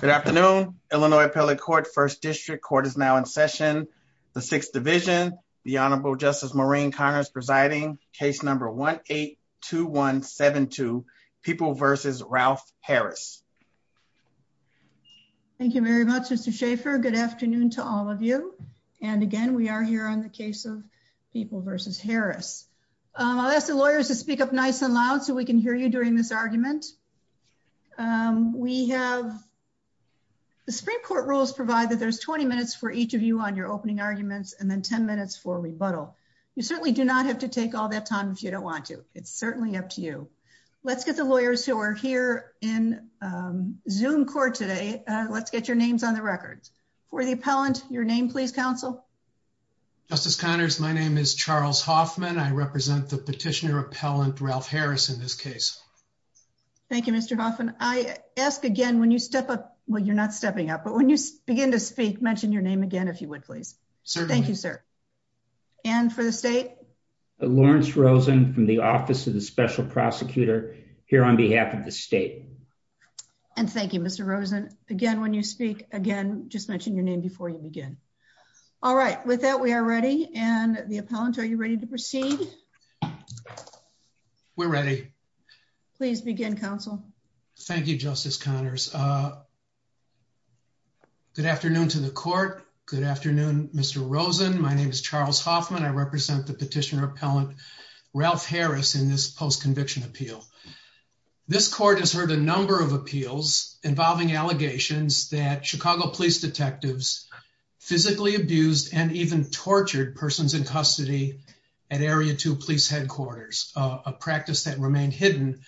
Good afternoon, Illinois Appellate Court, 1st District. Court is now in session. The 6th Division, the Honorable Justice Maureen Connors presiding, case number 1-8-2172, People v. Ralph Harris. Thank you very much, Mr. Schaffer. Good afternoon to all of you. And again, we are here on the case of People v. Harris. I'll ask the lawyers to speak up nice and loud so we can hear you during this argument. The Supreme Court rules provide that there's 20 minutes for each of you on your opening arguments and then 10 minutes for rebuttal. You certainly do not have to take all that time if you don't want to. It's certainly up to you. Let's get the lawyers who are here in Zoom court today. Let's get your names on the record. For the appellant, your name please, counsel. Justice Connors, my name is Charles Hoffman. I represent the petitioner appellant Ralph Harris in this case. Thank you, Mr. Hoffman. I ask again, when you step up, well, you're not stepping up, but when you begin to speak, mention your name again if you would, please. Certainly. Thank you, sir. And for the state? Lawrence Rosen from the Office of the Special Prosecutor here on behalf of the state. And thank you, Mr. Rosen. Again, when you speak, again, just mention your name before you begin. All right. With that, we are ready. And the we're ready. Please begin, counsel. Thank you, Justice Connors. Good afternoon to the court. Good afternoon, Mr. Rosen. My name is Charles Hoffman. I represent the petitioner appellant Ralph Harris in this post-conviction appeal. This court has heard a number of appeals involving allegations that Chicago police detectives physically abused and even tortured persons in custody at Area 2 police headquarters, a practice that remained hidden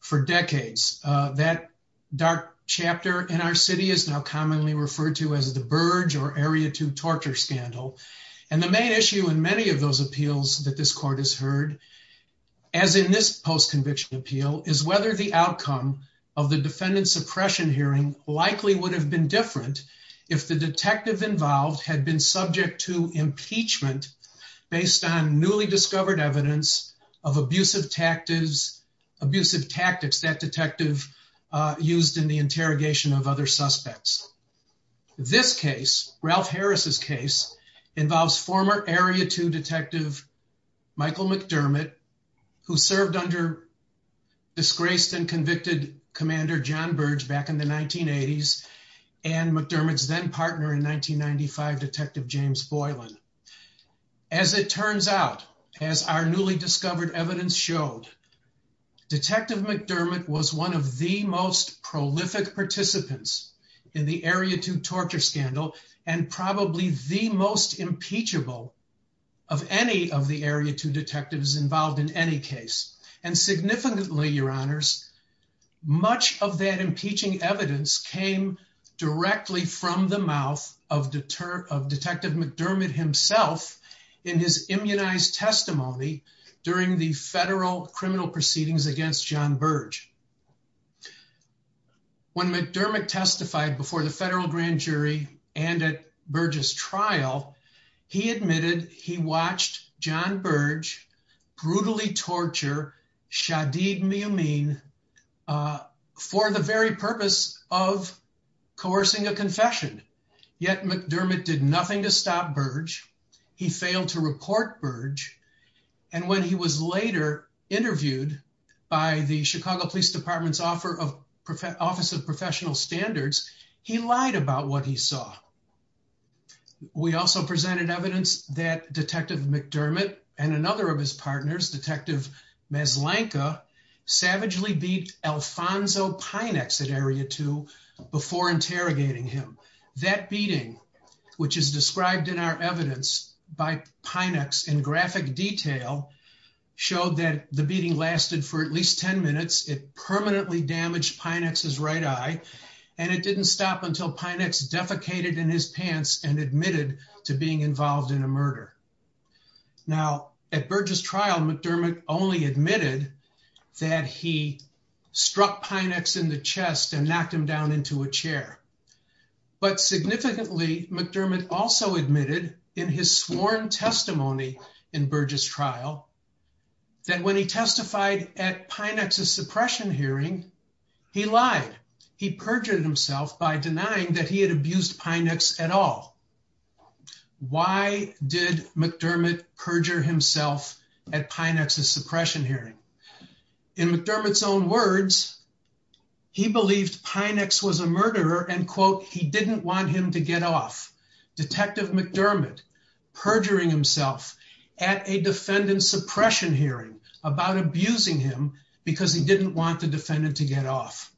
for decades. That dark chapter in our city is now commonly referred to as the Burge or Area 2 torture scandal. And the main issue in many of those appeals that this court has heard, as in this post-conviction appeal, is whether the outcome of the defendant suppression hearing likely would have been different if the detective involved had been subject to impeachment based on newly discovered evidence of abusive tactics that detective used in the interrogation of other suspects. This case, Ralph Harris's case, involves former Area 2 detective Michael McDermott, who served under disgraced and convicted commander John Bates and McDermott's then partner in 1995, detective James Boylan. As it turns out, as our newly discovered evidence showed, detective McDermott was one of the most prolific participants in the Area 2 torture scandal and probably the most impeachable of any of the Area 2 detectives involved in any case. And significantly, your honors, much of that impeaching evidence came directly from the mouth of detective McDermott himself in his immunized testimony during the federal criminal proceedings against John Burge. When McDermott testified before the federal grand jury and at Burge's trial, he admitted he watched John Burge brutally torture Shadid Miamin for the very purpose of coercing a confession. Yet McDermott did nothing to stop Burge. He failed to report Burge. And when he was later interviewed by the Chicago Police Department's Office of Professional Standards, he lied about what he saw. We also presented evidence that detective McDermott and another of his partners, detective Maslanka, savagely beat Alfonso Pinex at Area 2 before interrogating him. That beating, which is described in our evidence by Pinex in graphic detail, showed that the beating lasted for at least 10 minutes. It permanently damaged Pinex's right eye and it didn't stop until Pinex defecated in his pants and admitted to being involved in a murder. Now, at Burge's trial, McDermott only admitted that he struck Pinex in the chest and knocked him down into a chair. But significantly, McDermott also admitted in his sworn testimony in Burge's trial, that when he testified at Pinex's suppression hearing, he lied. He perjured himself by denying that he had abused Pinex at all. Why did McDermott perjure himself at Pinex's suppression hearing? In McDermott's own words, he believed Pinex was a murderer and, quote, he didn't want him to get off. Detective McDermott perjuring himself at a defendant's suppression hearing about abusing him because he didn't want the defendant to get off.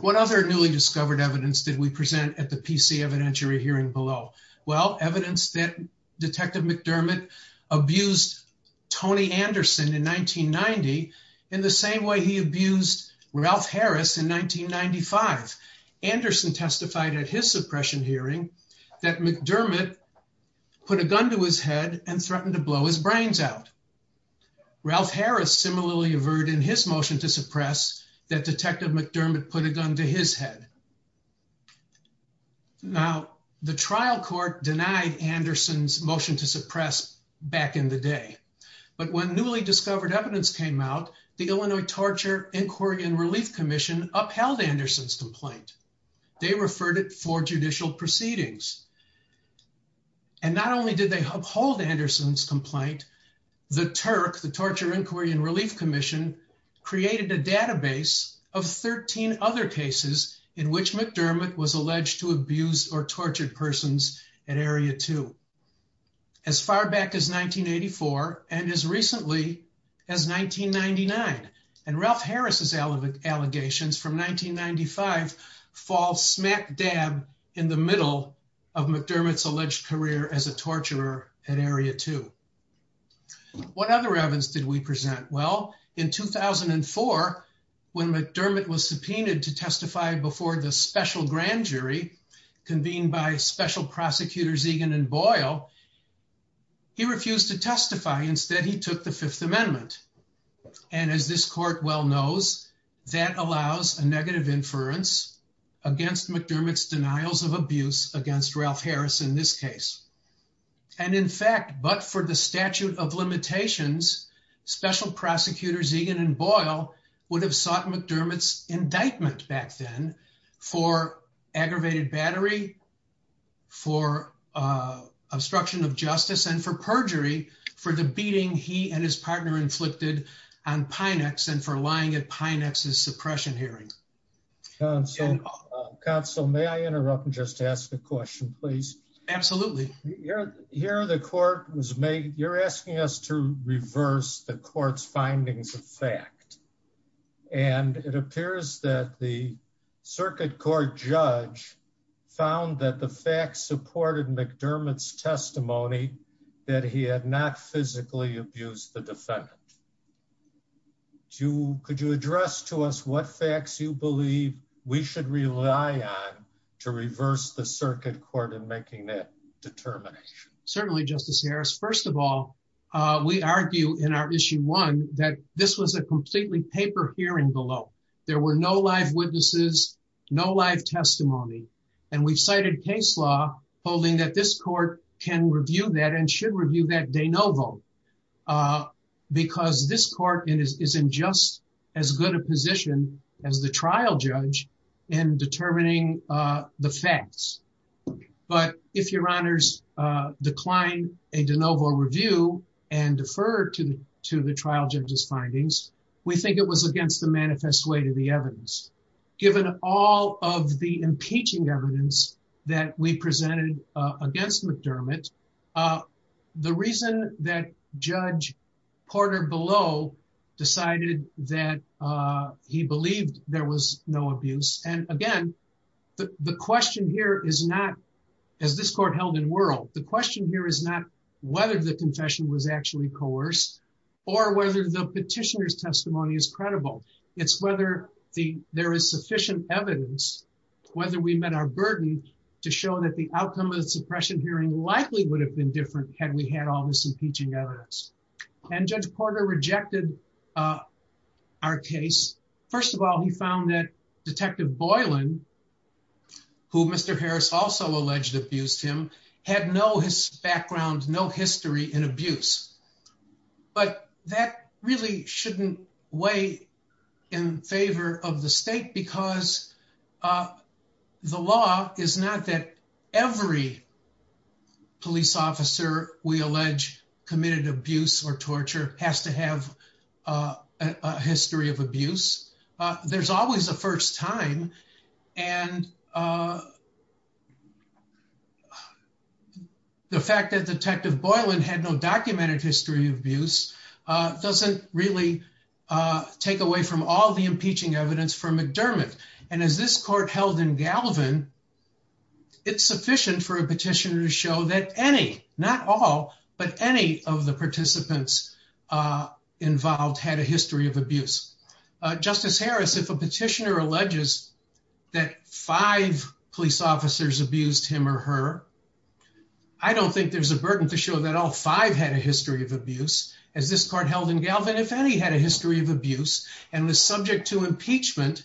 What other newly discovered evidence did we present at the PC evidentiary hearing below? Well, evidence that Detective McDermott abused Tony Anderson in 1990 in the same way he abused Ralph Harris in 1995. Anderson testified at his suppression hearing that McDermott put a gun to his head and threatened to blow his brains out. Ralph Harris similarly averted in his motion to suppress that Detective McDermott put a gun to his head. Now, the trial court denied Anderson's motion to suppress back in the day. But when newly discovered evidence came out, the Illinois Torture, Inquiry, and Relief Commission upheld Anderson's complaint. They referred it for judicial proceedings. And not only did they uphold Anderson's complaint, the TURC, the Torture, Inquiry, and Relief Commission created a database of 13 other cases in which McDermott was alleged to abuse or tortured persons at Area 2 as far back as 1984 and as recently as 1999. And Ralph Harris's allegations from 1995 fall smack dab in the middle of McDermott's alleged career as a torturer at Area 2. What other evidence did we present? Well, in 2004, when McDermott was subpoenaed to testify before the special grand jury convened by Special Prosecutors Egan and Boyle, he refused to testify. Instead, he took the Fifth Amendment. And as this court well knows, that allows a negative inference against McDermott's denials of abuse against Ralph Harris in this case. And in fact, but for the statute of limitations, Special Prosecutors Egan and Boyle would have sought McDermott's indictment back then for aggravated battery, for obstruction of justice, and for perjury for the beating he and his partner inflicted on Pinex and for lying at Pinex's suppression hearing. Counsel, may I interrupt and just ask a question, please? Absolutely. Here the court was made, you're asking us to reverse the court's findings of fact. And it appears that the circuit court judge found that the facts supported McDermott's testimony that he had not physically abused the defendant. Could you address to us what facts you believe we should rely on to reverse the circuit court in making that determination? Certainly, Justice Harris. First of all, we argue in our issue one that this was a completely paper hearing below. There were no live witnesses, no live testimony. And we've cited case law holding that this court can review that and should review that de novo. Because this court is in just as good a position as the trial judge in determining the facts. But if your honors decline a de novo review and defer to the trial judge's findings, we think it was against the manifest way to the evidence. Given all of the impeaching evidence that we presented against McDermott, the reason that Judge Porter below decided that he believed there was no abuse. And again, the question here is not, as this court held in world, the question here is not whether the confession was actually coerced or whether the petitioner's to show that the outcome of the suppression hearing likely would have been different had we had all this impeaching evidence. And Judge Porter rejected our case. First of all, he found that Detective Boylan, who Mr. Harris also alleged abused him, had no his background, no history in abuse. But that really shouldn't weigh in favor of the state because of the law is not that every police officer we allege committed abuse or torture has to have a history of abuse. There's always a first time. And the fact that Detective Boylan had no documented history of abuse doesn't really take away from all the impeaching evidence from McDermott. And as this court held in Galvin, it's sufficient for a petitioner to show that any, not all, but any of the participants involved had a history of abuse. Justice Harris, if a petitioner alleges that five police officers abused him or her, I don't think there's a burden to show that all five had a history of abuse. As this court held in Galvin, if any had a history of abuse and was subject to impeachment,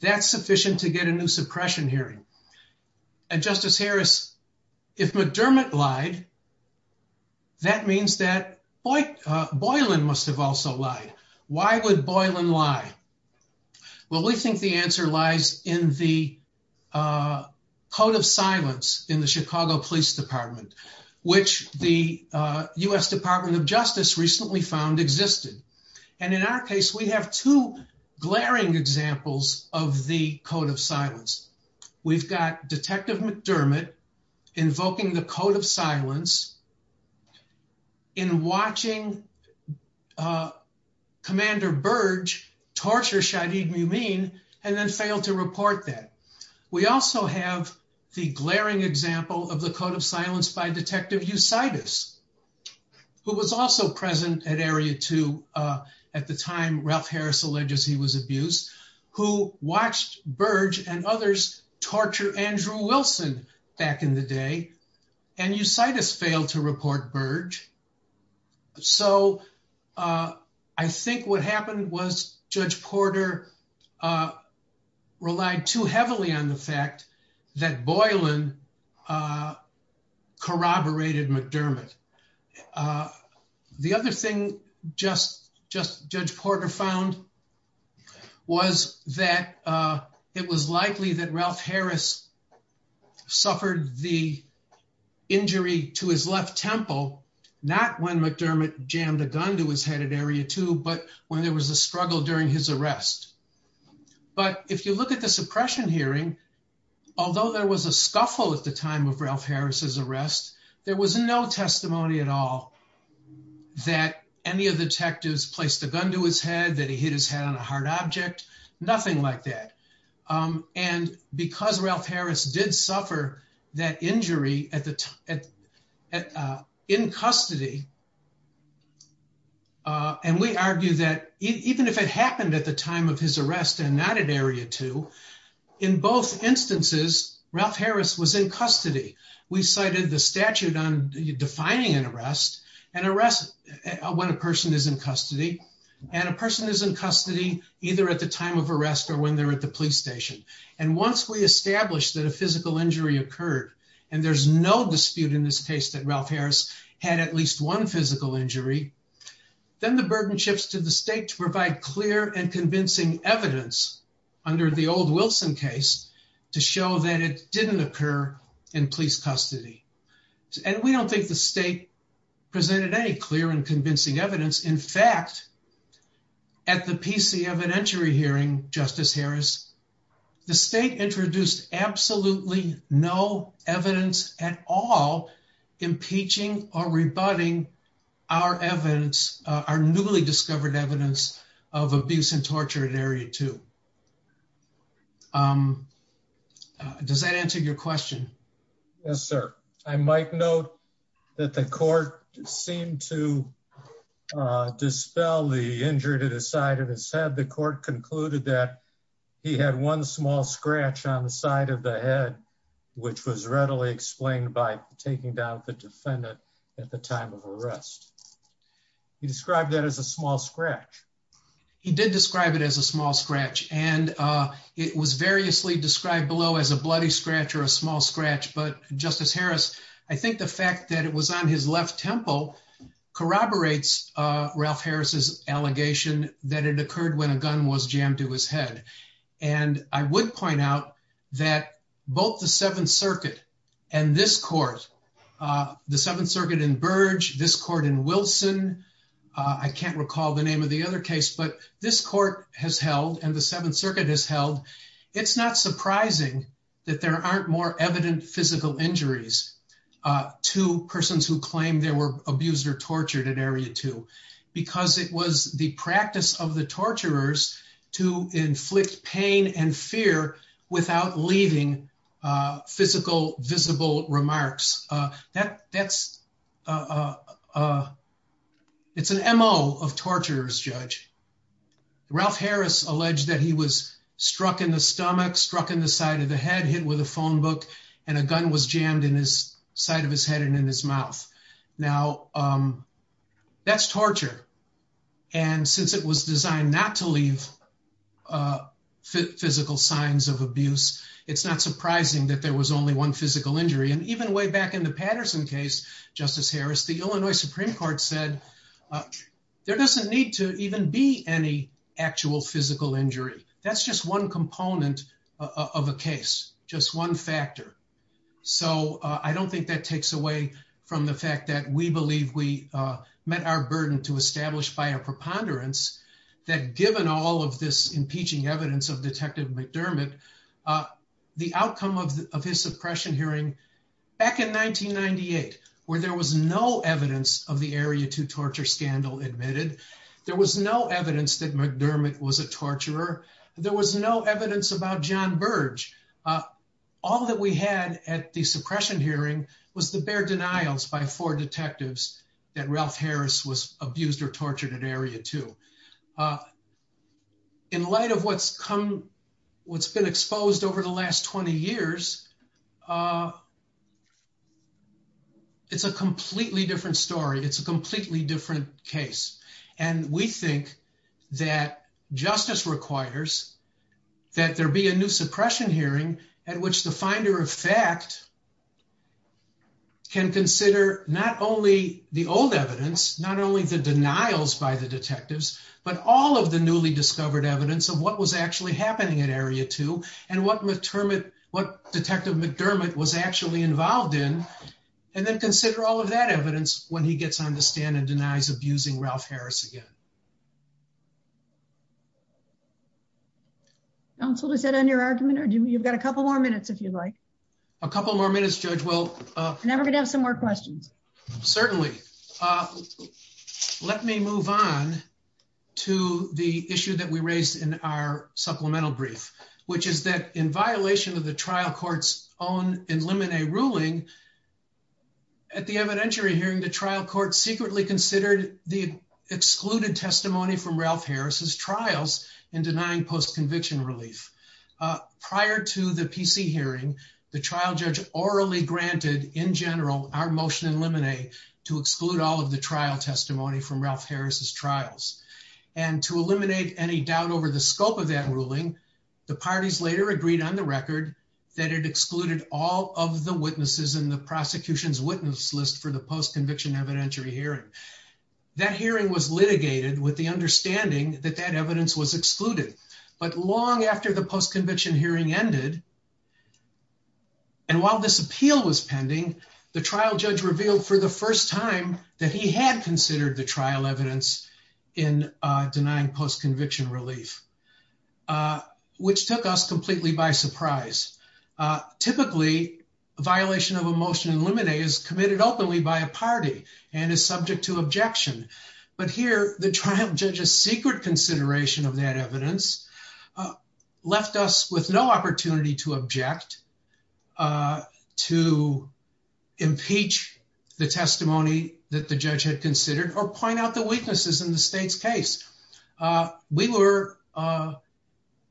that's sufficient to get a new suppression hearing. And Justice Harris, if McDermott lied, that means that Boylan must have also lied. Why would Boylan lie? Well, we think the answer lies in the code of silence in the Chicago Police Department, which the U.S. Department of Justice recently found existed. And in our case, we have two glaring examples of the code of silence. We've got Detective McDermott invoking the code of silence in watching Commander Burge torture Shahid Mumin and then fail to report that. We also have the glaring example of the code of silence by Detective Eusitis, who was also present at Area 2 at the time Ralph Harris alleges he was abused, who watched Burge and others torture Andrew Wilson back in the day. And Eusitis failed to report Burge. So I think what happened was Judge Porter relied too heavily on the fact that Boylan corroborated McDermott. The other thing just Judge Porter found was that it was likely that Ralph Harris suffered the injury to his left temple, not when McDermott jammed a gun to his head at Area 2, but when there was a struggle during his arrest. But if you look at the suppression hearing, although there was a scuffle at the time of Ralph Harris's arrest, there was no testimony at all that any of the detectives placed a gun to his head, that he hit his head on a hard object, nothing like that. And because Ralph Harris did suffer that injury in custody, and we argue that even if it happened at the time of his arrest and not at Area 2, in both instances, Ralph Harris was in custody. We cited the statute on defining an arrest, an arrest when a person is in custody, and a person is in custody either at the time of arrest or when they're at the police station. And once we established that a physical injury occurred, and there's no dispute in this case that Ralph Harris had at least one physical injury, then the burden shifts to the state to provide clear and convincing evidence under the old Wilson case to show that it didn't occur in police custody. And we don't think the state presented any clear and convincing evidence. In fact, at the PC evidentiary hearing, Justice Harris, the state introduced absolutely no evidence at all impeaching or rebutting our newly discovered evidence of abuse and torture at Area 2. Does that answer your question? Yes, sir. I might note that the court seemed to dispel the injury to the side of his head. The court concluded that he had one small scratch on the side of the head, which was readily explained by taking down the defendant at the time of arrest. He described that as a small scratch. He did describe it as a small scratch. And it was variously described below as a bloody scratch or a small scratch. But Justice Harris, I think the fact that it was on his left temple corroborates Ralph Harris's allegation that it occurred when a gun was jammed to his head. And I would point out that both the Seventh Circuit and this court, the Seventh Circuit in Burge, this court in Wilson, I can't recall the name of the other case, but this court has held and the Seventh Circuit has held, it's not surprising that there aren't more evident physical injuries to persons who claim they were abused or tortured at Area 2, because it was the practice of the torturers to inflict pain and fear without leaving physical, visible remarks. That's, it's an MO of torturers, Judge. Ralph Harris alleged that he was struck in the stomach, struck in the side of the head, hit with a phone book, and a gun was jammed in his side of his head and in his mouth. Now, that's torture. And since it was designed not to leave physical signs of abuse, it's not surprising that there was only one physical injury. And even way Patterson case, Justice Harris, the Illinois Supreme Court said, there doesn't need to even be any actual physical injury. That's just one component of a case, just one factor. So I don't think that takes away from the fact that we believe we met our burden to establish by a preponderance that given all of this impeaching evidence of Detective McDermott, the outcome of his suppression hearing back in 1998, where there was no evidence of the Area 2 torture scandal admitted, there was no evidence that McDermott was a torturer. There was no evidence about John Burge. All that we had at the suppression hearing was the bare denials by four detectives that Ralph Harris was abused or tortured at Area 2. In light of what's come, what's been exposed over the last 20 years, it's a completely different story. It's a completely different case. And we think that justice requires that there be a new suppression hearing at which the finder of fact can consider not only the old evidence, not only the denials by the detectives, but all of the newly discovered evidence of what was actually happening at Area 2 and what Detective McDermott was actually involved in, and then consider all of that evidence when he gets on the stand and denies abusing Ralph Harris again. Counsel, does that end your argument? You've got a couple more minutes, if you'd like. A couple more minutes, Judge. And then we're going to have some more questions. Certainly. Let me move on to the issue that we raised in our supplemental brief, which is that in violation of the trial court's own in limine ruling at the evidentiary hearing, the trial court secretly considered the excluded testimony from Ralph Harris's trials in denying post-conviction relief. Prior to the PC hearing, the trial judge orally granted, in general, our motion in limine to exclude all of the trial testimony from Ralph Harris's trials. And to eliminate any doubt over the scope of that ruling, the parties later agreed on the record that it excluded all of the witnesses in the prosecution's witness list for the post-conviction evidentiary hearing. That hearing was litigated with the understanding that that evidence was excluded. But long after the post-conviction hearing ended, and while this appeal was pending, the trial judge revealed for the first time that he had considered the trial evidence in denying post-conviction relief, which took us completely by surprise. Typically, a violation of a motion in limine is committed openly by a party and is subject to objection. But here, the trial judge's secret consideration of that evidence left us with no opportunity to object, to impeach the testimony that the judge had considered, or point out the weaknesses in the state's case. We were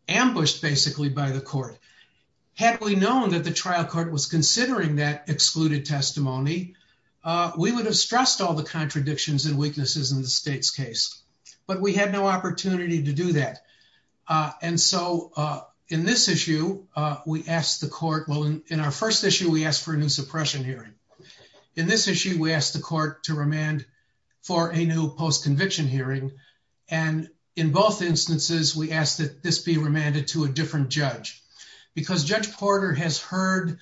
ambushed, basically, by the court. Had we known that the trial court was considering that excluded testimony, we would have stressed all the contradictions and weaknesses in the state's case. But we had no opportunity to do that. In our first issue, we asked for a new suppression hearing. In this issue, we asked the court to remand for a new post-conviction hearing. In both instances, we asked that this be remanded to a different judge. Because Judge Porter has heard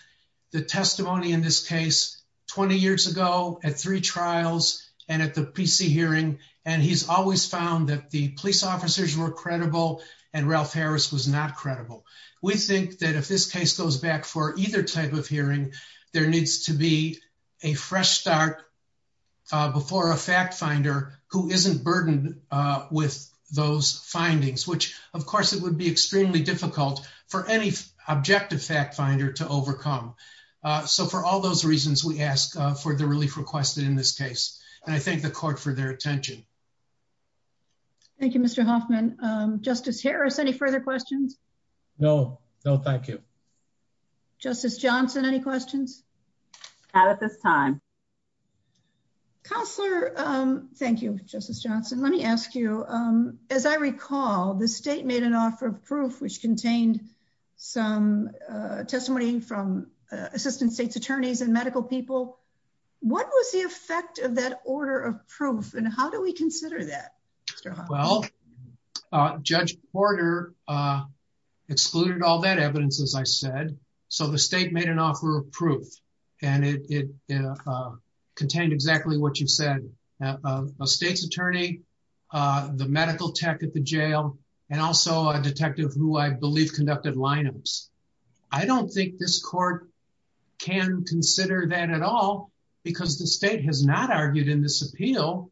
the testimony in this case 20 years ago, at three trials, and at the PC hearing, and he's always found that the police officers were credible, and Ralph Harris was not credible. We think that if this case goes back for either type of hearing, there needs to be a fresh start before a fact finder who isn't burdened with those findings, which, of course, it would be extremely difficult for any objective fact finder to overcome. So for all those reasons, we ask for the relief requested in this case. And I thank the court for their attention. Thank you, Mr. Hoffman. Justice Harris, any further questions? No, no, thank you. Justice Johnson, any questions? Not at this time. Counselor, thank you, Justice Johnson. Let me ask you, as I recall, the state made an assistance state's attorneys and medical people. What was the effect of that order of proof? And how do we consider that, Mr. Hoffman? Well, Judge Porter excluded all that evidence, as I said. So the state made an offer of proof. And it contained exactly what you said, a state's attorney, the medical tech at the jail, and also a detective who I believe conducted lineups. I don't think this court can consider that at all, because the state has not argued in this appeal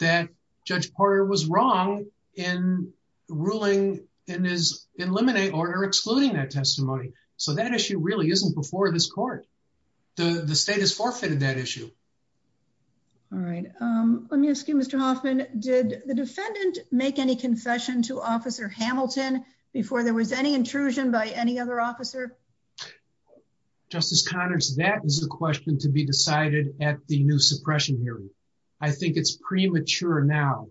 that Judge Porter was wrong in ruling in his eliminate order excluding that testimony. So that issue really isn't before this court. The state has forfeited that issue. All right. Let me ask you, Mr. Hoffman, did the defendant make any confession to Officer Hamilton before there was any intrusion by any other officer? Justice Connors, that is a question to be decided at the new suppression hearing. I think it's premature now.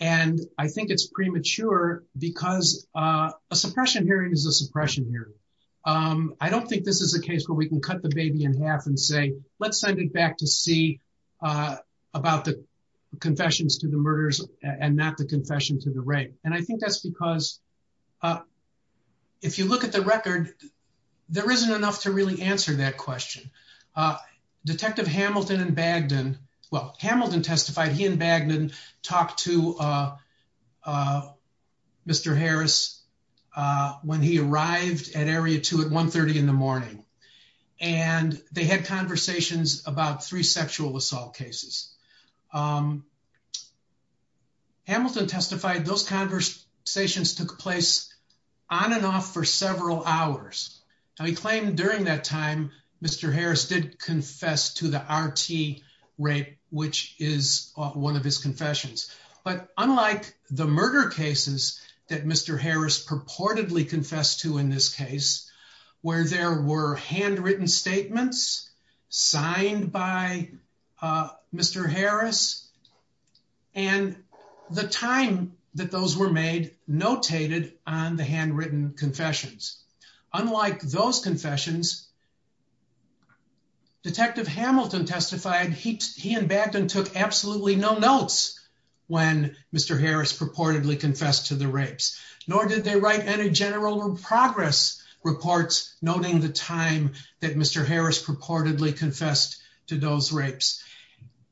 And I think it's premature because a suppression hearing is a suppression hearing. I don't think this is a case where we can cut the baby in half and say, let's send it back to see about the confessions to the murderers and not the confession to the rape. And I think that's because if you look at the record, there isn't enough to really answer that question. Detective Hamilton and Bagdon, well, Hamilton testified, he and Bagdon talked to Mr. Harris when he arrived at Area 2 at 1.30 in the morning. And they had conversations about three sexual assault cases. Hamilton testified those conversations took place on and off for several hours. Now, during that time, Mr. Harris did confess to the RT rape, which is one of his confessions. But unlike the murder cases that Mr. Harris purportedly confessed to in this case, where there were handwritten statements signed by Mr. Harris and the time that those were made notated on the handwritten confessions. Unlike those confessions, Detective Hamilton testified he and Bagdon took absolutely no notes when Mr. Harris purportedly confessed to the rapes, nor did they write any general progress reports noting the time that Mr. Harris purportedly confessed to those rapes.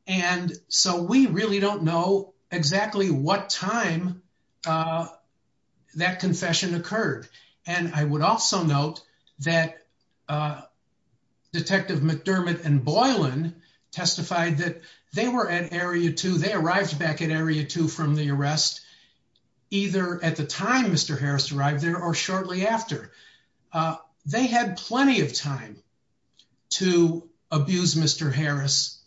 And so we really don't know exactly what time that confession occurred. And I would also note that Detective McDermott and Boylan testified that they were at Area 2, they arrived back at Area 2 from the arrest, either at the time Mr. Harris arrived there or shortly after. They had plenty of time to abuse Mr. Harris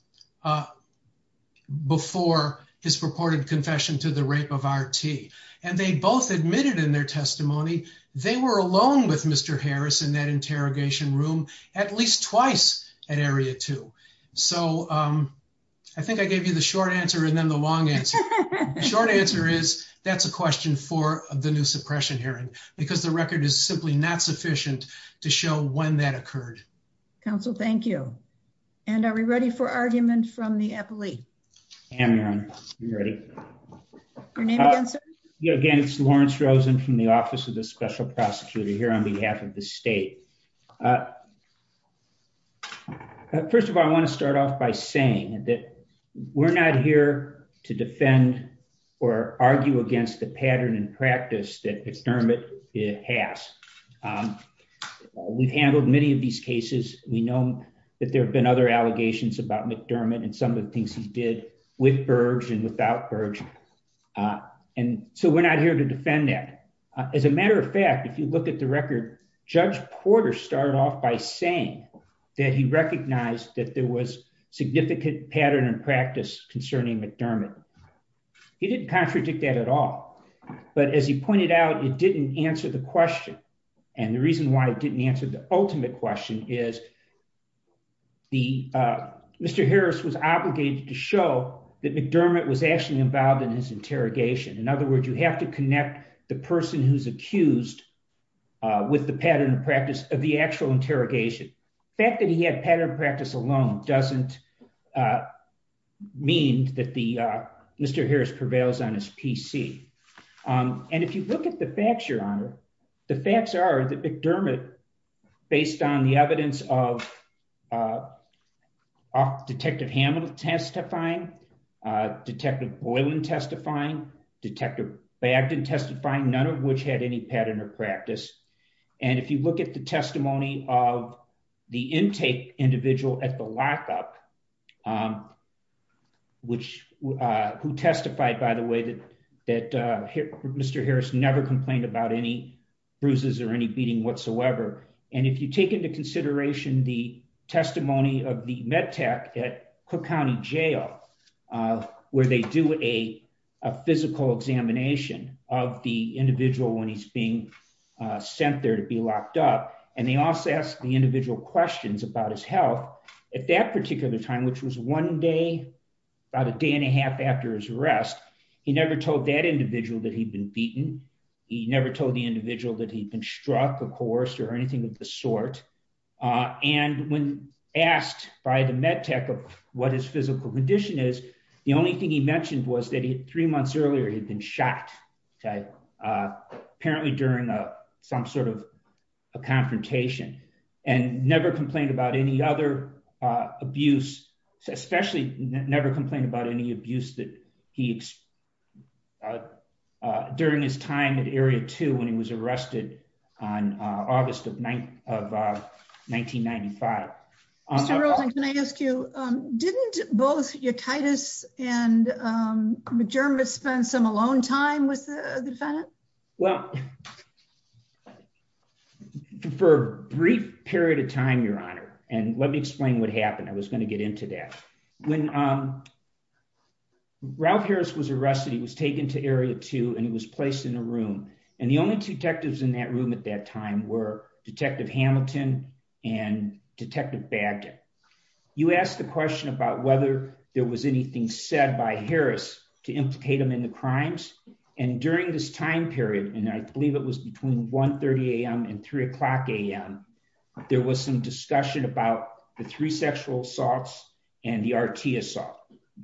before his purported confession to the rape of RT. And they both admitted in their testimony, they were alone with Mr. Harris in that interrogation room at least twice at Area 2. So I think I gave you the short answer and then the long answer. Short answer is, that's a question for the new suppression hearing, because the record is simply not sufficient to show when that occurred. Counsel, thank you. And are we ready for argument from the appellee? I am, you're ready. Your name and answer? Again, it's Lawrence Rosen from the Office of the Special Prosecutor here on behalf of the state. First of all, I want to start off by saying that we're not here to defend or argue against the pattern and practice that McDermott has. We've handled many of these cases. We know that there have been other allegations about McDermott and some of the things he did with Burge and without Burge. And so we're not here to defend that. As a matter of fact, if you look at the record, Judge Porter started off by saying that he recognized that there was significant pattern and practice concerning McDermott. He didn't contradict that at all. But as he pointed out, it didn't answer the question. And the reason why it didn't answer the ultimate question is Mr. Harris was obligated to show that McDermott was actually involved in his interrogation. In other words, you have to connect the person who's accused with the pattern of practice of actual interrogation. The fact that he had pattern of practice alone doesn't mean that Mr. Harris prevails on his PC. And if you look at the facts, Your Honor, the facts are that McDermott, based on the evidence of Detective Hammond testifying, Detective Boylan testifying, Detective Bagdon testifying, none of which had any pattern of of the intake individual at the lockup, which who testified, by the way, that Mr. Harris never complained about any bruises or any beating whatsoever. And if you take into consideration the testimony of the med tech at Cook County Jail, where they do a physical examination of the individual when he's being sent there to be locked up. And they also ask the individual questions about his health at that particular time, which was one day, about a day and a half after his arrest. He never told that individual that he'd been beaten. He never told the individual that he'd been struck, of course, or anything of the sort. And when asked by the med tech of what his physical condition is, the only thing he mentioned was that he had three months earlier, he'd been shot, apparently during some sort of a confrontation, and never complained about any other abuse, especially never complained about any abuse that he during his time at area two when he was arrested on August of 1995. Can I ask you, didn't both your Titus and McDermott spend some alone time with the defendant? Well, for a brief period of time, Your Honor, and let me explain what happened. I was going to get into that. When Ralph Harris was arrested, he was taken to area two, and he was placed in a room. And the only two detectives in that room at that time were Detective Hamilton and Detective Bagdon. You asked the question about whether there was anything said by Harris to implicate him in the crimes. And during this time period, and I believe it was between 1.30 a.m. and three o'clock a.m., there was some discussion about the three sexual assaults and the R.T. assault.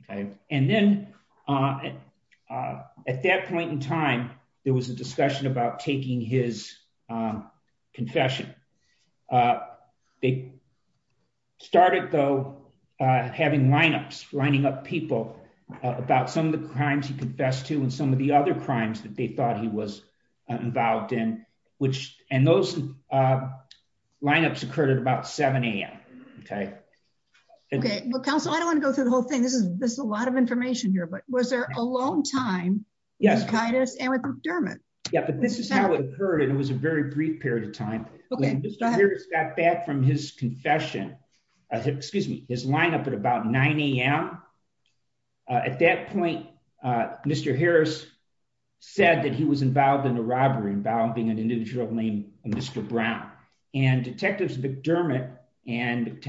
And then at that point in time, there was a discussion about taking his confession. They started though, having lineups, lining up people about some of the crimes he confessed to and some of the other crimes that they thought he was involved in, which and those lineups occurred at about 7 a.m. Okay. Okay. Well, counsel, I don't want to go through the whole thing. This is this a lot of information here, but was there alone time? Yes. And with McDermott? Yeah, but this is how it occurred. And it was a very brief period of time. Harris got back from his confession, excuse me, his lineup at about 9 a.m. At that point, Mr. Harris said that he was involved in a robbery involving an individual named Mr. Brown. And Detectives McDermott and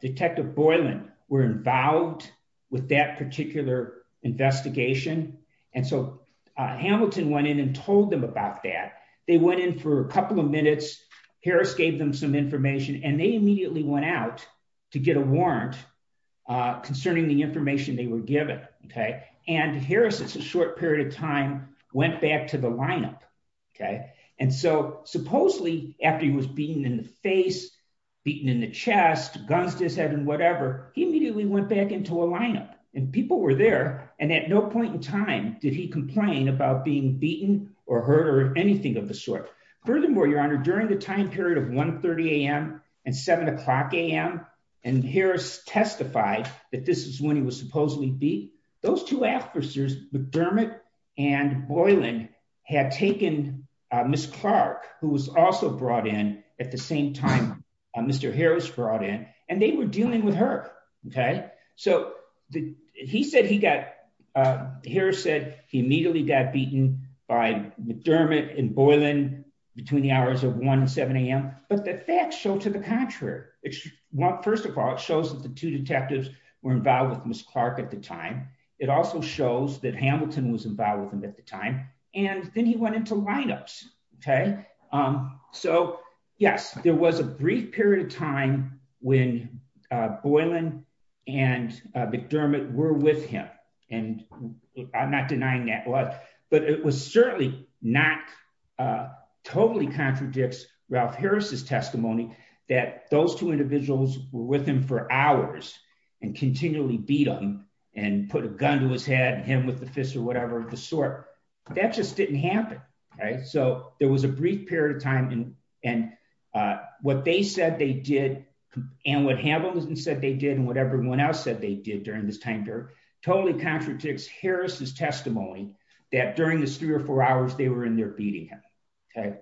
Detective Boylan were involved with that particular investigation. And so Hamilton went in and told them about that. They went in for a couple of minutes. Harris gave them some information and they immediately went out to get a warrant concerning the information they were given. Okay. And Harris, it's a short period of time, went back to the lineup. Okay. And so supposedly after he was beaten in the face, beaten in the chest, guns to his head and whatever, he immediately went back into a lineup and people were there. And at no point in time did he complain about being beaten or hurt or anything of the sort. Furthermore, your honor, during the time period of 1.30 a.m. and 7 o'clock a.m. and Harris testified that this is when he was supposedly beat. Those two officers, McDermott and Boylan, had taken Ms. Clark, who was also brought in at the same time Mr. Harris brought in, and they were dealing with her. Okay. So he said he got, Harris said he immediately got beaten by McDermott and Boylan between the hours of 1.00 and 7.00 a.m. But the facts show to the contrary. First of all, it shows that the two detectives were involved with Ms. Clark at the time. It also shows that Hamilton was involved with him at the time and then he went into lineups. Okay. So yes, there was a brief period of time when Boylan and McDermott were with him and I'm not denying that was, but it was certainly not, totally contradicts Ralph Harris's testimony that those two individuals were with him for hours and continually beat him and put a gun to his head and hit him with the fist or whatever of the sort. That just didn't happen. Right. So there was a brief period of time and what they said they did and what Hamilton said they did and what everyone else said they did during this time period totally contradicts Harris's testimony that during this three or four hours they were in there beating him. Okay.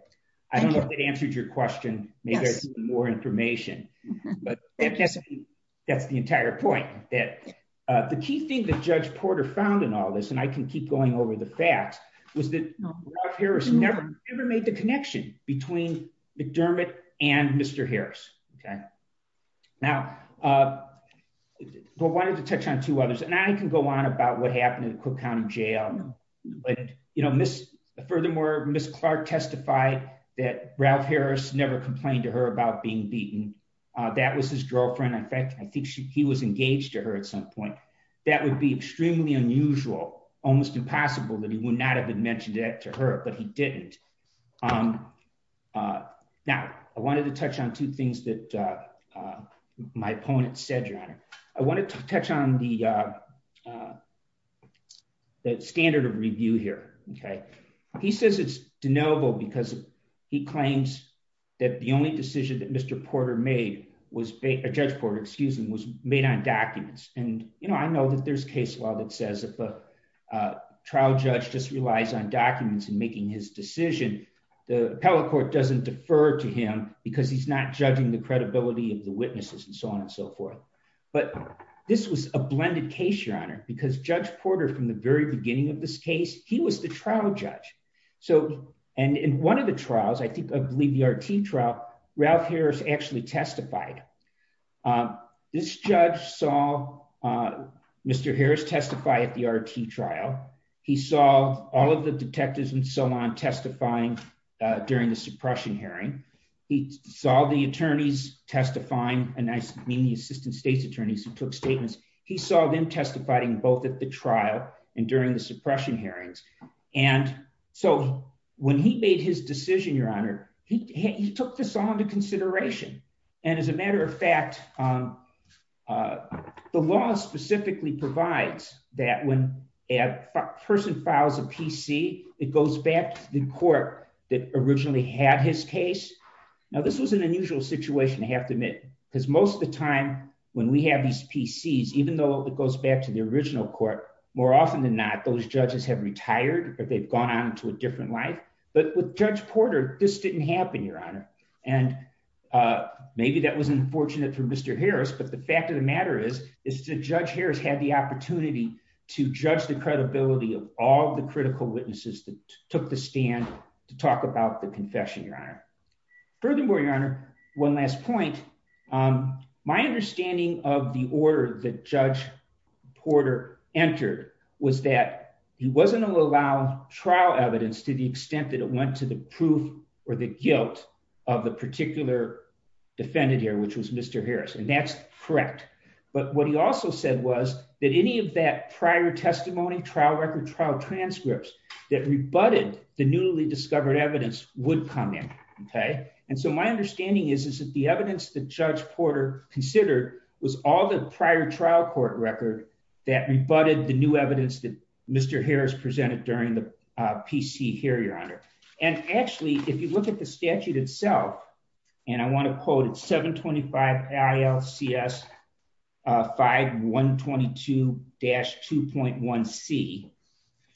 I don't know if that answered your question. Maybe there's more information, but that's the entire point that the key thing that Judge Porter found in all this, and I can keep going over the facts, was that Ralph Harris never made the connection between McDermott and Mr. Harris. Okay. Now, but I wanted to touch on two others and I can go on about what happened in the Cook County jail. You know, furthermore, Ms. Clark testified that Ralph Harris never complained to her about being beaten. That was his girlfriend. In fact, I think he was engaged to her at some point. That would be extremely unusual, almost impossible that he would not have mentioned that to her, but he didn't. Now, I wanted to touch on two things that my opponent said, Your Honor. I wanted to touch on the standard of review here. Okay. He says it's deniable because he claims that the only decision that Mr. Porter made was, Judge Porter, excuse me, was made on documents. And, you know, I know that there's case law that says if a trial judge just relies on documents in making his decision, the appellate court doesn't defer to him because he's not judging the credibility of the witnesses and so on and so forth. But this was a blended case, Your Honor, because Judge Porter, from the very beginning of this case, he was the trial judge. So, and in one of the trials, I think, I believe the RT trial, Ralph Harris actually testified. This judge saw Mr. Harris testify at the RT trial. He saw all of the detectives and so on testifying during the suppression hearing. He saw the attorneys testifying, and I mean the assistant state's attorneys who took statements. He saw them testifying both at the trial and during the suppression hearings. And so when he made his decision, Your Honor, he took this all into consideration. And as a matter of fact, the law specifically provides that when a person files a PC, it goes back to the court that originally had his case. Now, this was an unusual situation, I have to admit, because most of the time when we have these PCs, even though it goes back to the original court, more often than not, those judges have retired or they've gone on to a different life. But with Judge Porter, this didn't happen, Your Honor. And maybe that was unfortunate for Mr. Harris, but the fact of the to judge the credibility of all the critical witnesses that took the stand to talk about the confession, Your Honor. Furthermore, Your Honor, one last point. My understanding of the order that Judge Porter entered was that he wasn't allowed trial evidence to the extent that it went to the proof or the guilt of the particular defendant here, which was Mr. Harris. And that's correct. But what he also said was that any of that prior testimony, trial record, trial transcripts that rebutted the newly discovered evidence would come in. And so my understanding is, is that the evidence that Judge Porter considered was all the prior trial court record that rebutted the new evidence that Mr. Harris presented during the PC hearing, Your Honor. And actually, if you look at the statute itself, and I want to quote it, 725 ILCS 5122-2.1C,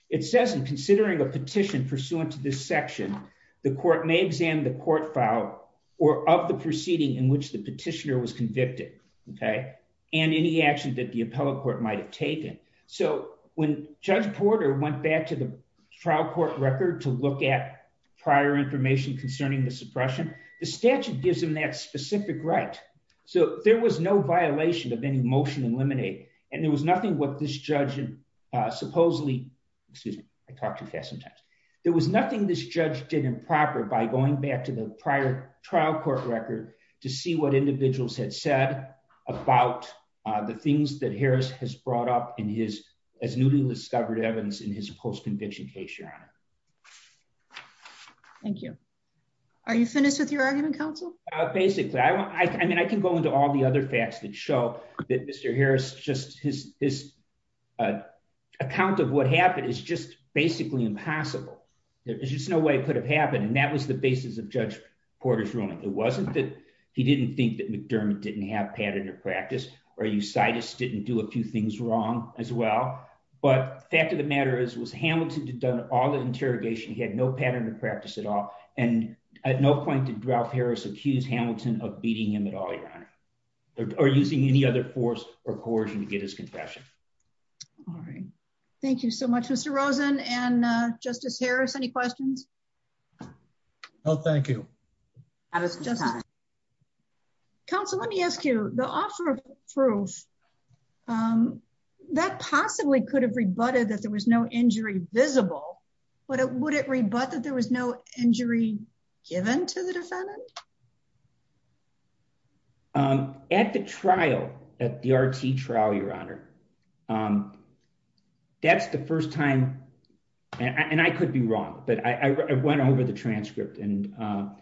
it says in considering a petition pursuant to this section, the court may examine the court file or of the proceeding in which the petitioner was convicted, okay? And any action that the appellate court might have taken. So when Judge Porter went back to the trial court record to look at prior information concerning the suppression, the statute gives him that specific right. So there was no violation of any motion eliminated. And there was nothing what this judge supposedly, excuse me, I talk too fast sometimes. There was nothing this judge did improper by going back to the prior trial court record to see what as newly discovered evidence in his post conviction case, Your Honor. Thank you. Are you finished with your argument, counsel? Basically, I mean, I can go into all the other facts that show that Mr. Harris just his account of what happened is just basically impossible. There's just no way it could have happened. And that was the basis of Judge Porter's ruling. It wasn't that he didn't think that but fact of the matter is was Hamilton to done all the interrogation, he had no pattern of practice at all. And at no point did Ralph Harris accused Hamilton of beating him at all, Your Honor, or using any other force or coercion to get his confession. All right. Thank you so much, Mr. Rosen. And Justice Harris, any questions? No, thank you. Justice Harris. Counsel, let me ask you the offer of proof that possibly could have rebutted that there was no injury visible, but would it rebut that there was no injury given to the defendant? At the trial at the RT trial, Your Honor. That's the first time and I could be wrong, but I went over the transcript. And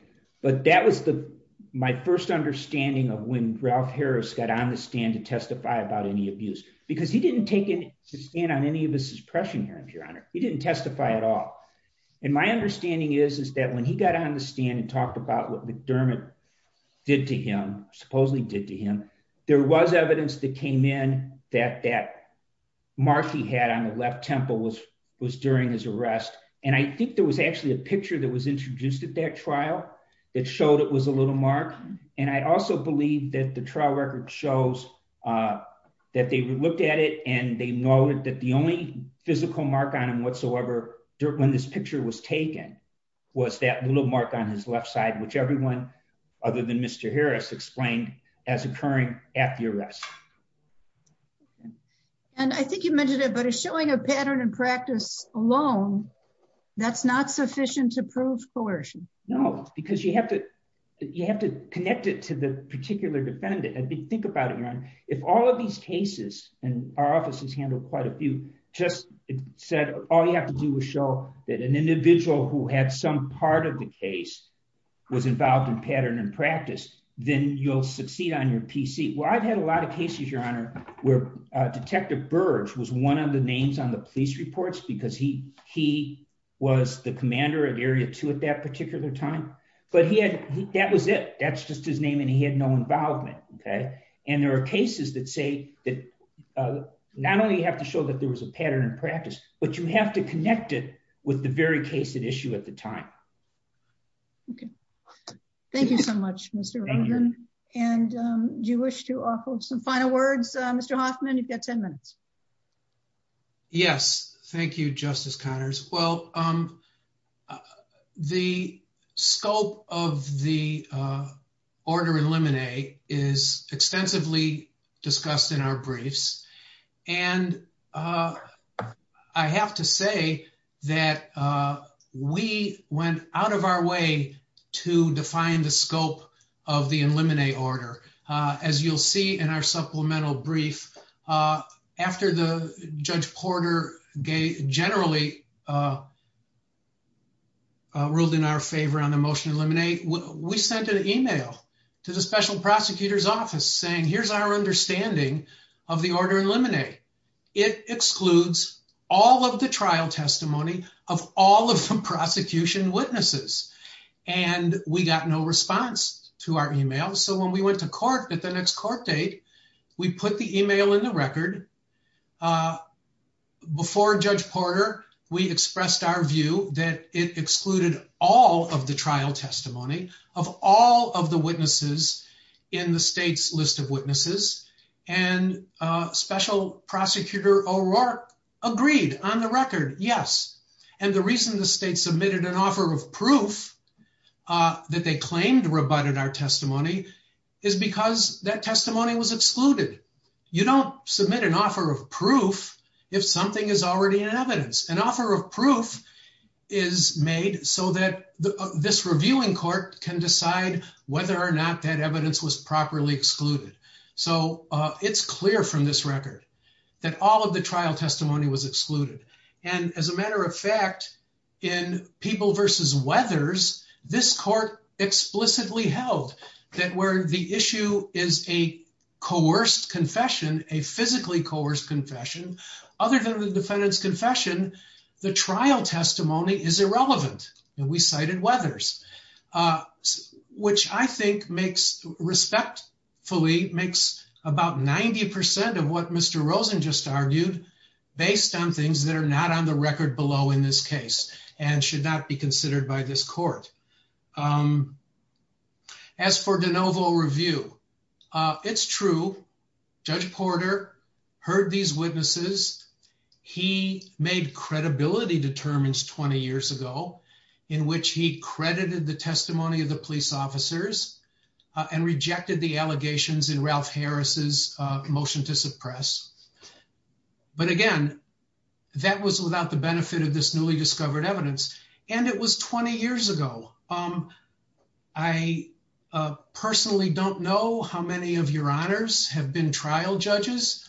but that was the my first understanding of when Ralph Harris got on the stand to testify about any abuse, because he didn't take in to stand on any of his suppression here, if Your Honor, he didn't testify at all. And my understanding is, is that when he got on the stand and talked about what McDermott did to him, supposedly did to him, there was evidence that came in that that mark he had on the left temple was was during his arrest. And I think there was actually a picture that was introduced at that trial that showed it was a little mark. And I also believe that the trial record shows that they looked at it and they noted that the only physical mark on him whatsoever, when this picture was taken, was that little mark on his left side, which everyone other than Mr. Harris explained as occurring at the arrest. And I think you mentioned it, but it's showing a pattern and practice alone. That's not sufficient to prove coercion. No, because you have to, you have to connect it to the particular defendant. I mean, think about it, Your Honor. If all of these cases, and our office has handled quite a few, just said, all you have to do is show that an individual who had some part of the case was involved in pattern and practice, then you'll succeed on your PC. Well, I've had a lot of cases Your Honor, where Detective Burge was one of the names on the police reports because he was the commander of Area 2 at that particular time. But he had, that was it. That's just his name and he had no involvement. Okay. And there are cases that say that not only you have to show that there was a pattern and practice, but you have to connect it with the very case at issue at the time. Okay. Thank you so much, Mr. Rogen. And do you wish to offer some final words, Mr. Hoffman? You've got 10 minutes. Yes. Thank you, Justice Connors. Well, the scope of the order in limine is extensively discussed in our briefs. And uh, I have to say that, uh, we went out of our way to define the scope of the in limine order. Uh, as you'll see in our supplemental brief, uh, after the Judge Porter gave generally, uh, ruled in our favor on the motion to eliminate, we sent an email to the special prosecutor's it excludes all of the trial testimony of all of the prosecution witnesses. And we got no response to our email. So when we went to court at the next court date, we put the email in the record, uh, before Judge Porter, we expressed our view that it excluded all of the trial testimony of all of the witnesses in the state's list of witnesses and a special prosecutor O'Rourke agreed on the record. Yes. And the reason the state submitted an offer of proof, uh, that they claimed rebutted our testimony is because that testimony was excluded. You don't submit an offer of proof. If something is already in evidence, an offer of proof is made so that this reviewing court can decide whether or not that evidence was properly excluded. So, uh, it's clear from this record that all of the trial testimony was excluded. And as a matter of fact, in people versus weathers, this court explicitly held that where the issue is a coerced confession, a physically coerced confession, other than the defendant's confession, the trial testimony is irrelevant. And we cited weathers, uh, which I think makes respect fully makes about 90% of what Mr Rosen just argued based on things that are not on the record below in this case and should not be considered by this court. Um, as for de novo review, uh, it's true. Judge Porter heard these witnesses. He made credibility determines 20 he credited the testimony of the police officers and rejected the allegations in Ralph Harris's motion to suppress. But again, that was without the benefit of this newly discovered evidence. And it was 20 years ago. Um, I personally don't know how many of your honors have been trial judges,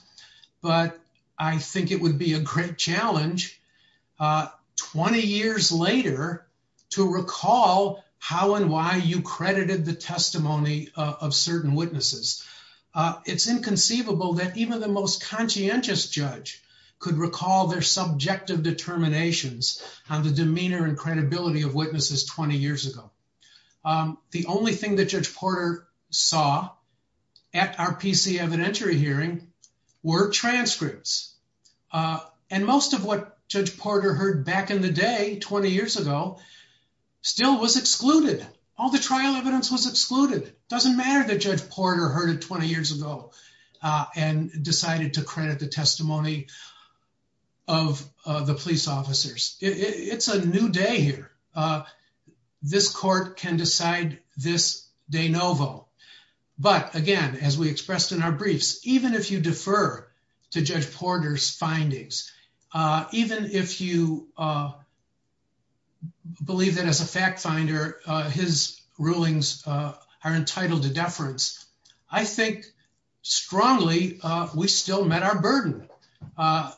but I think it would be a great challenge, uh, 20 years later to recall how and why you credited the testimony of certain witnesses. Uh, it's inconceivable that even the most conscientious judge could recall their subjective determinations on the demeanor and credibility of witnesses 20 Porter saw at our PC evidentiary hearing were transcripts. Uh, and most of what Judge Porter heard back in the day 20 years ago still was excluded. All the trial evidence was excluded. Doesn't matter that Judge Porter heard it 20 years ago, uh, and decided to credit the testimony of the police officers. It's a new day here. Uh, this court can decide this de novo. But again, as we expressed in our briefs, even if you defer to Judge Porter's findings, uh, even if you, uh, believe that as a fact finder, his rulings are entitled to deference. I think strongly we still met our burden. Uh,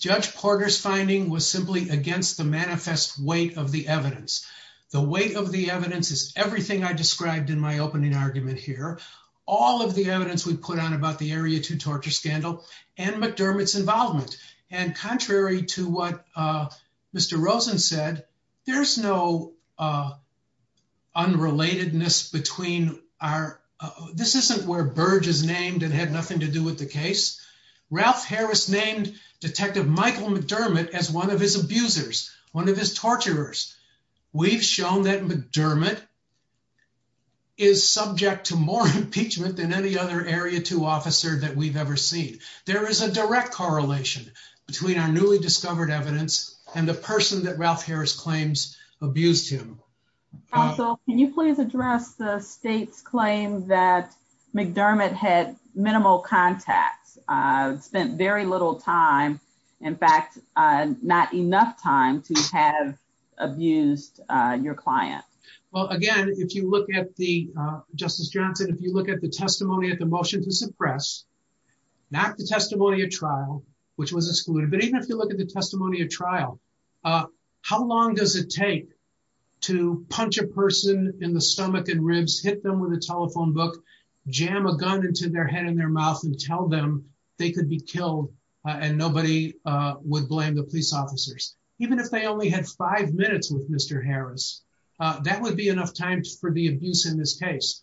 Judge Porter's finding was simply against the manifest weight of the evidence. The weight of the evidence is everything I described in my opening argument here. All of the evidence we put on about the area to torture scandal and McDermott's involvement. And contrary to what, uh, Mr Rosen said, there's no, uh, unrelatedness between our, this isn't where Burge is named and had nothing to do with the case. Ralph Harris named Detective Michael McDermott as one of his abusers, one of his torturers. We've shown that McDermott is subject to more impeachment than any other area to officer that we've ever seen. There is a direct correlation between our newly discovered evidence and the that McDermott had minimal contacts, uh, spent very little time. In fact, uh, not enough time to have abused, uh, your client. Well, again, if you look at the, uh, Justice Johnson, if you look at the testimony at the motion to suppress, not the testimony of trial, which was excluded, but even if you look at the testimony of trial, uh, how long does it take to punch a person in the stomach and ribs, hit them with a telephone book, jam a gun into their head and their mouth and tell them they could be killed? Uh, and nobody, uh, would blame the police officers, even if they only had five minutes with Mr. Harris, uh, that would be enough time for the abuse in this case.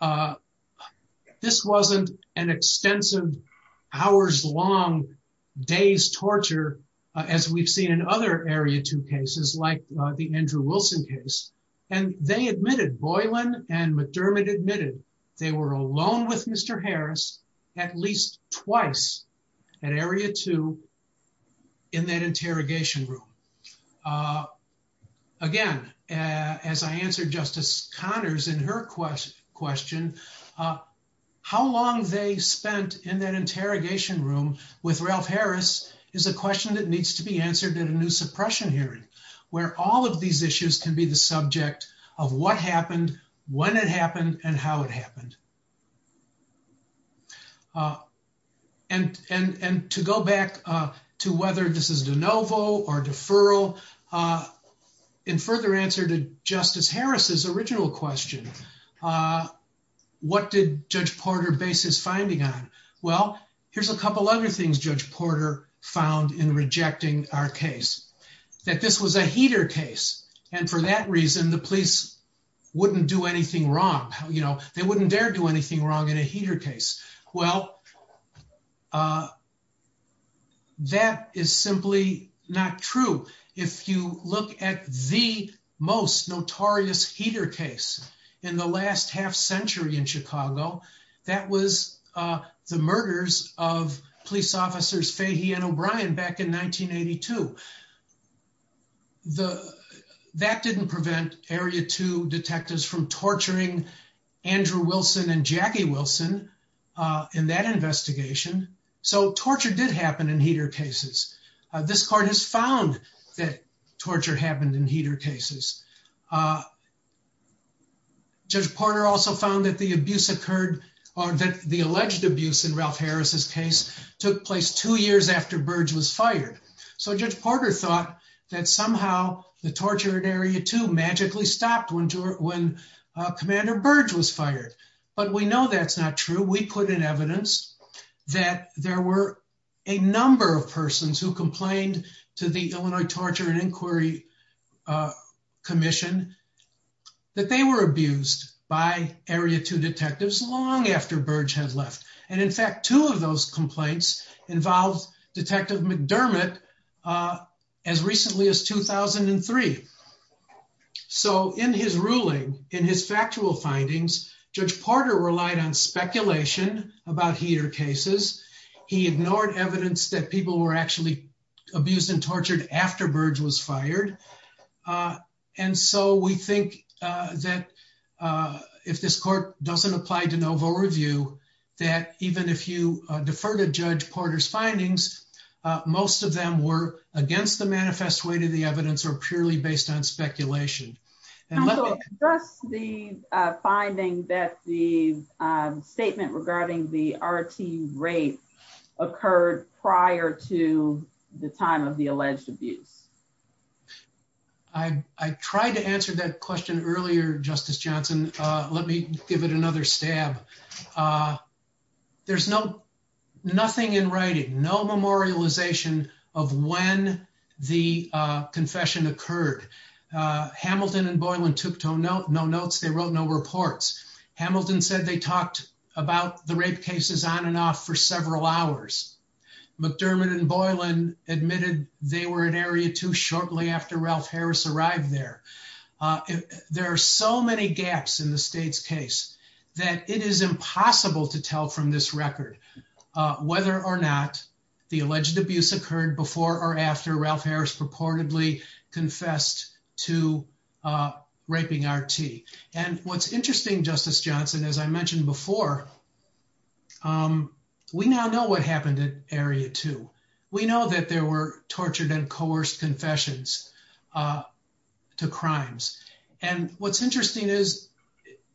Uh, this wasn't an extensive hours long days torture, uh, as we've seen in area two cases like the Andrew Wilson case. And they admitted Boylan and McDermott admitted they were alone with Mr. Harris at least twice at area two in that interrogation room. Uh, again, uh, as I answered justice Connors in her quest question, uh, how long they spent in that suppression hearing where all of these issues can be the subject of what happened when it happened and how it happened. Uh, and, and, and to go back, uh, to whether this is de novo or deferral, uh, in further answer to justice Harris's original question, uh, what did judge Porter base his Well, here's a couple other things judge Porter found in rejecting our case, that this was a heater case. And for that reason, the police wouldn't do anything wrong. You know, they wouldn't dare do anything wrong in a heater case. Well, uh, that is simply not true. If you look at the most notorious heater case in the last half century in Chicago, that was, uh, the murders of police officers, Fahey and O'Brien back in 1982. The, that didn't prevent area two detectives from torturing Andrew Wilson and Jackie Wilson, uh, in that investigation. So torture did happen in heater cases. Uh, this court has found that torture did happen in heater cases. Uh, judge Porter also found that the abuse occurred, or that the alleged abuse in Ralph Harris's case took place two years after Burge was fired. So judge Porter thought that somehow the torture in area two magically stopped when, when, uh, commander Burge was fired. But we know that's not true. We put in evidence that there were a number of persons who complained to the Illinois torture and inquiry commission that they were abused by area two detectives long after Burge had left. And in fact, two of those complaints involved detective McDermott, uh, as recently as 2003. So in his ruling, in his factual findings, judge Porter relied on speculation about heater cases. He ignored evidence that people were actually abused and tortured after Burge was fired. And so we think, uh, that, uh, if this court doesn't apply DeNovo review, that even if you defer to judge Porter's findings, uh, most of them were against the manifest way to the evidence or purely based on speculation. And just the, uh, finding that the, um, statement regarding the RT rape occurred prior to the time of the alleged abuse. Okay. I, I tried to answer that question earlier, justice Johnson. Uh, let me give it another stab. Uh, there's no, nothing in writing, no memorialization of when the, uh, confession occurred. Uh, Hamilton and Boylan took tone note, no notes. They wrote no reports. Hamilton said they talked about the rape cases on and off for several hours. McDermott and Boylan admitted they were an area too shortly after Ralph Harris arrived there. Uh, there are so many gaps in the state's case that it is impossible to tell from this record, uh, whether or not the alleged abuse occurred before or after Ralph Harris purportedly confessed to, uh, raping RT. And what's interesting justice Johnson, as I mentioned before, um, we now know what happened area too. We know that there were tortured and coerced confessions, uh, to crimes. And what's interesting is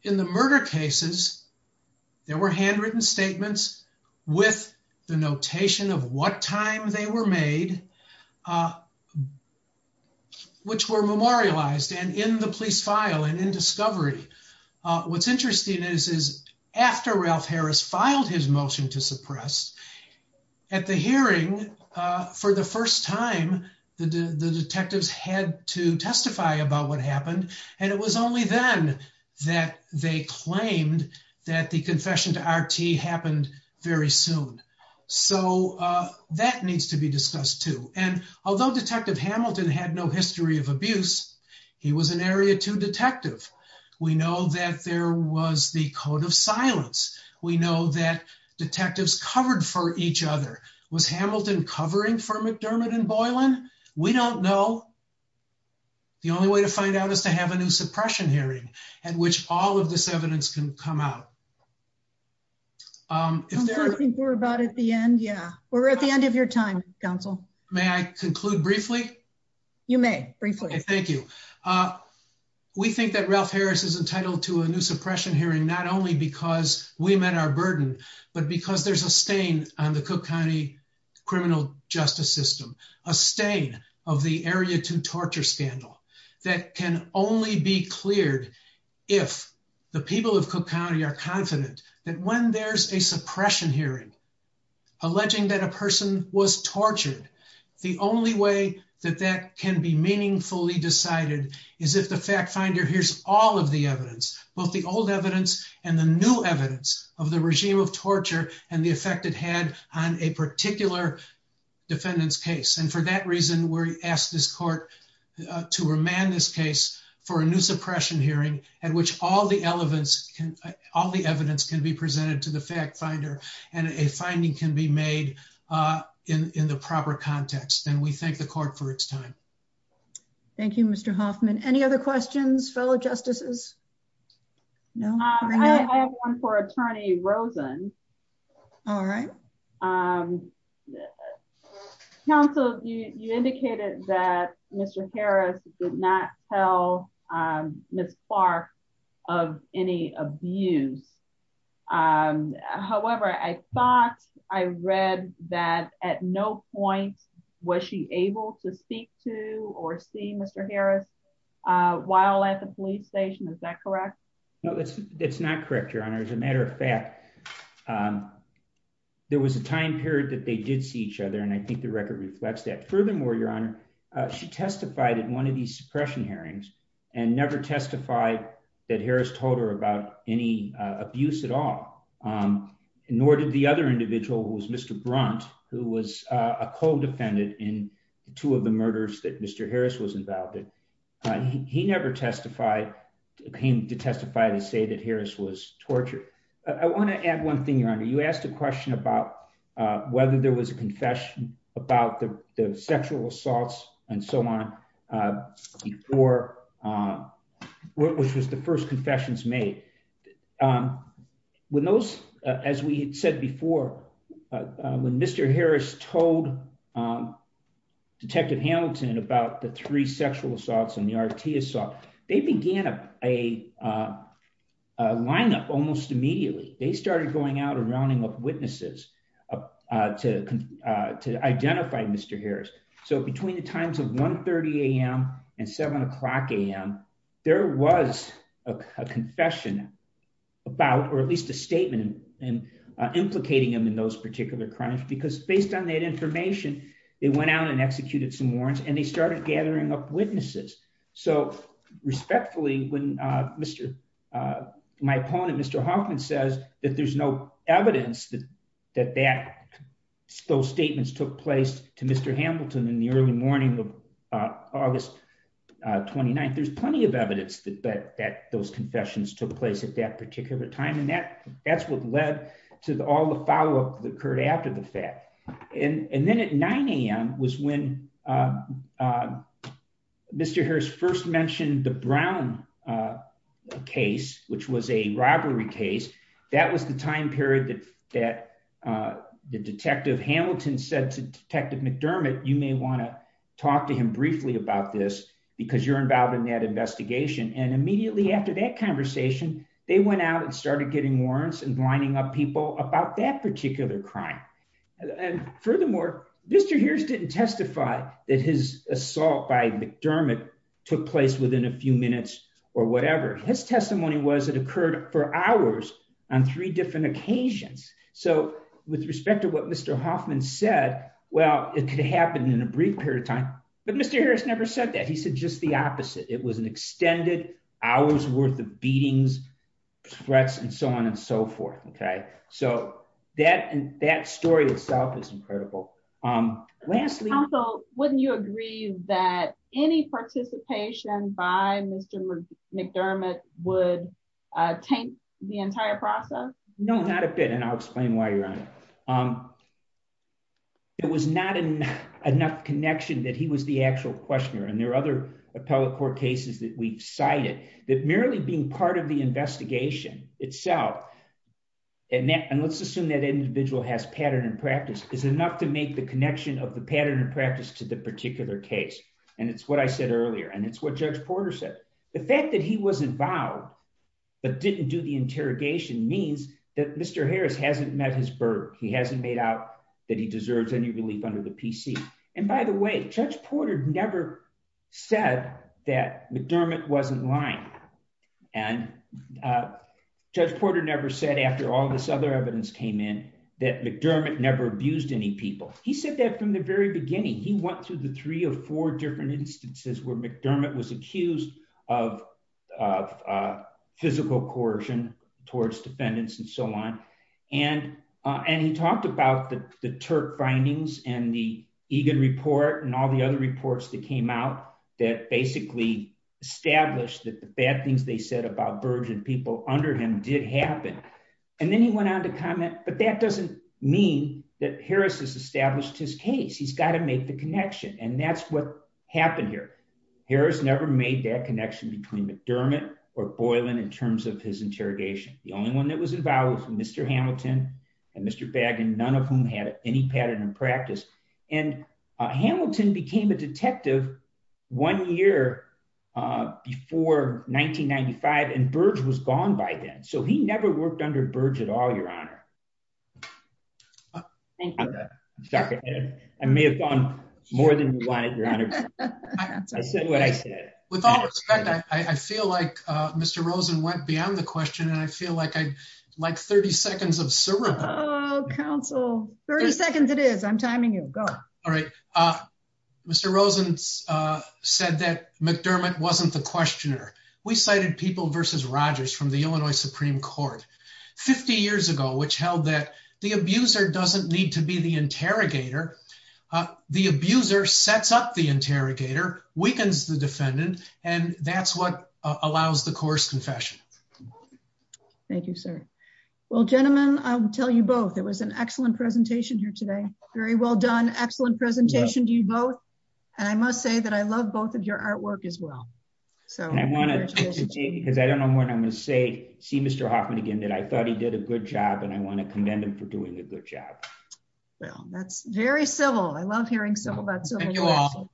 in the murder cases, there were handwritten statements with the notation of what time they were made, uh, which were memorialized and in the police file and in discovery. Uh, is after Ralph Harris filed his motion to suppress at the hearing, uh, for the first time the D the detectives had to testify about what happened. And it was only then that they claimed that the confession to RT happened very soon. So, uh, that needs to be discussed too. And although detective Hamilton had no history of abuse, he was an area to detective. We know that there was the code of silence. We know that detectives covered for each other was Hamilton covering for McDermott and Boylan. We don't know. The only way to find out is to have a new suppression hearing at which all of this evidence can come out. Um, we're at the end of your time council. May I conclude briefly? You may briefly. Thank you. Uh, we think that Ralph Harris is entitled to a new suppression hearing, not only because we met our burden, but because there's a stain on the Cook County criminal justice system, a stain of the area to torture scandal that can only be cleared. If the people of Cook County are confident that when there's a suppression hearing alleging that a person was tortured, the only way that that can be meaningfully decided is if the fact finder hears all of the evidence, both the old evidence and the new evidence of the regime of torture and the effect it had on a particular defendant's case. And for that reason, we're asked this court to remand this case for a new suppression hearing at which all the elements can, all the evidence can be presented to the fact finder and a finding can be made, uh, in, in the proper context. And we thank the court for its time. Thank you, Mr. Hoffman. Any other questions, fellow justices? No, I have one for attorney Rosen. All right. Um, counsel, you, you indicated that Mr. Harris did not tell, um, Ms. Clark of any abuse. Um, however, I thought I read that at no point was she able to speak to or see Mr. Harris, uh, while at the police station. Is that correct? No, that's, that's not correct. Your honor, as a matter of fact, um, there was a time period that they did see each other. And I think the record reflects that. Furthermore, your honor, uh, she testified in one of these suppression hearings and never testified that Harris told her about any, uh, abuse at all. Um, nor did the other individual who was Mr. Brunt, who was a co-defendant in two of the murders that Mr. Harris was involved in. Uh, he never testified, came to testify to say that Harris was tortured. I want to add one thing, your honor, you asked a question about, uh, whether there was a confession about the, the sexual assaults and so on, uh, before, uh, which was the first confessions made, um, when those, uh, as we had said before, uh, when Mr. Harris told, um, Detective Hamilton about the three sexual assaults and the RT assault, they began a, a, uh, uh, lineup almost immediately. They started going out and rounding up witnesses, uh, uh, to, uh, to identify Mr. Harris. So between the times of 1.30 AM and seven o'clock AM, there was a confession about, or at least a statement in, uh, implicating him in those particular crimes, because based on that information, they went out and executed some warrants and they started gathering up witnesses. So respectfully, when, uh, Mr., uh, my opponent, Mr. Hoffman says that there's no evidence that, that, that those statements took place to Mr. Hamilton in the early morning of, uh, August, uh, 29th, there's plenty of evidence that, that, that those confessions took place at that particular time. And that, that's what led to all the follow-up that occurred after the fact. And then at 9 AM was when, uh, uh, Mr. Harris first mentioned the Brown, uh, case, which was a robbery case. That was the time period that, that, uh, the Detective Hamilton said to Detective McDermott, you may want to talk to him briefly about this because you're involved in that investigation. And immediately after that conversation, they went out and started getting warrants and lining up people about that particular crime. And furthermore, Mr. Harris didn't testify that his assault by McDermott took place within a few minutes or whatever. His testimony was it occurred for hours on three different occasions. So with respect to what Mr. Hoffman said, well, it could happen in a brief period of time, but Mr. Harris never said that. He said just the opposite. It was an extended hours worth of beatings threats and so on and so forth. Okay. So that, and that story itself is incredible. Um, lastly, wouldn't you agree that any participation by Mr. McDermott would, uh, tank the entire process? No, not a bit. And I'll explain why you're on it. Um, it was not enough connection that he was the actual questioner and there are other appellate court cases that we've cited that merely being part of the investigation itself. And that, and let's assume that individual has pattern and practice is enough to make the connection of the pattern and practice to the particular case. And it's what I said earlier. And it's what judge Porter said. The fact that he wasn't vowed, but didn't do the interrogation means that Mr. Harris hasn't met his bird. He hasn't made out that he deserves any under the PC. And by the way, judge Porter never said that McDermott wasn't lying. And, uh, judge Porter never said after all this other evidence came in that McDermott never abused any people. He said that from the very beginning, he went through the three or four different instances where McDermott was accused of, of, uh, physical coercion towards defendants and so on. And, uh, and he talked about the, the Turk findings and the Egan report and all the other reports that came out that basically established that the bad things they said about burgeoned people under him did happen. And then he went on to comment, but that doesn't mean that Harris has established his case. He's got to make the connection. And that's what happened here. Harris never made that connection between McDermott or Boylan in terms of his interrogation. The only one that was involved from Mr. Hamilton and Mr. Baggin, none of whom had any pattern in practice. And, uh, Hamilton became a detective one year, uh, before 1995 and Burge was gone by then. So he never worked under Burge at all, your honor. I may have gone more than you wanted your honor. I said what I said. With all respect, I feel like, uh, Mr. Rosen went beyond the question and I feel like I'd like 30 seconds of syrup council 30 seconds. It is I'm timing you go. All right. Uh, Mr. Rosen, uh, said that McDermott wasn't the questioner. We cited people versus Rogers from the Illinois Supreme court 50 years ago, which held that the abuser doesn't need to be the and that's what allows the course confession. Thank you, sir. Well, gentlemen, I'll tell you both. It was an excellent presentation here today. Very well done. Excellent presentation. Do you vote? And I must say that I love both of your artwork as well. So I want to say, because I don't know when I'm going to say, see Mr. Hoffman again that I thought he did a good job and I want to commend him for doing a good job. Well, that's very civil. I love hearing civil, but you all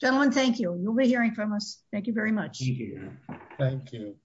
gentlemen. Thank you. You'll be hearing from us. Thank you very much. Thank you.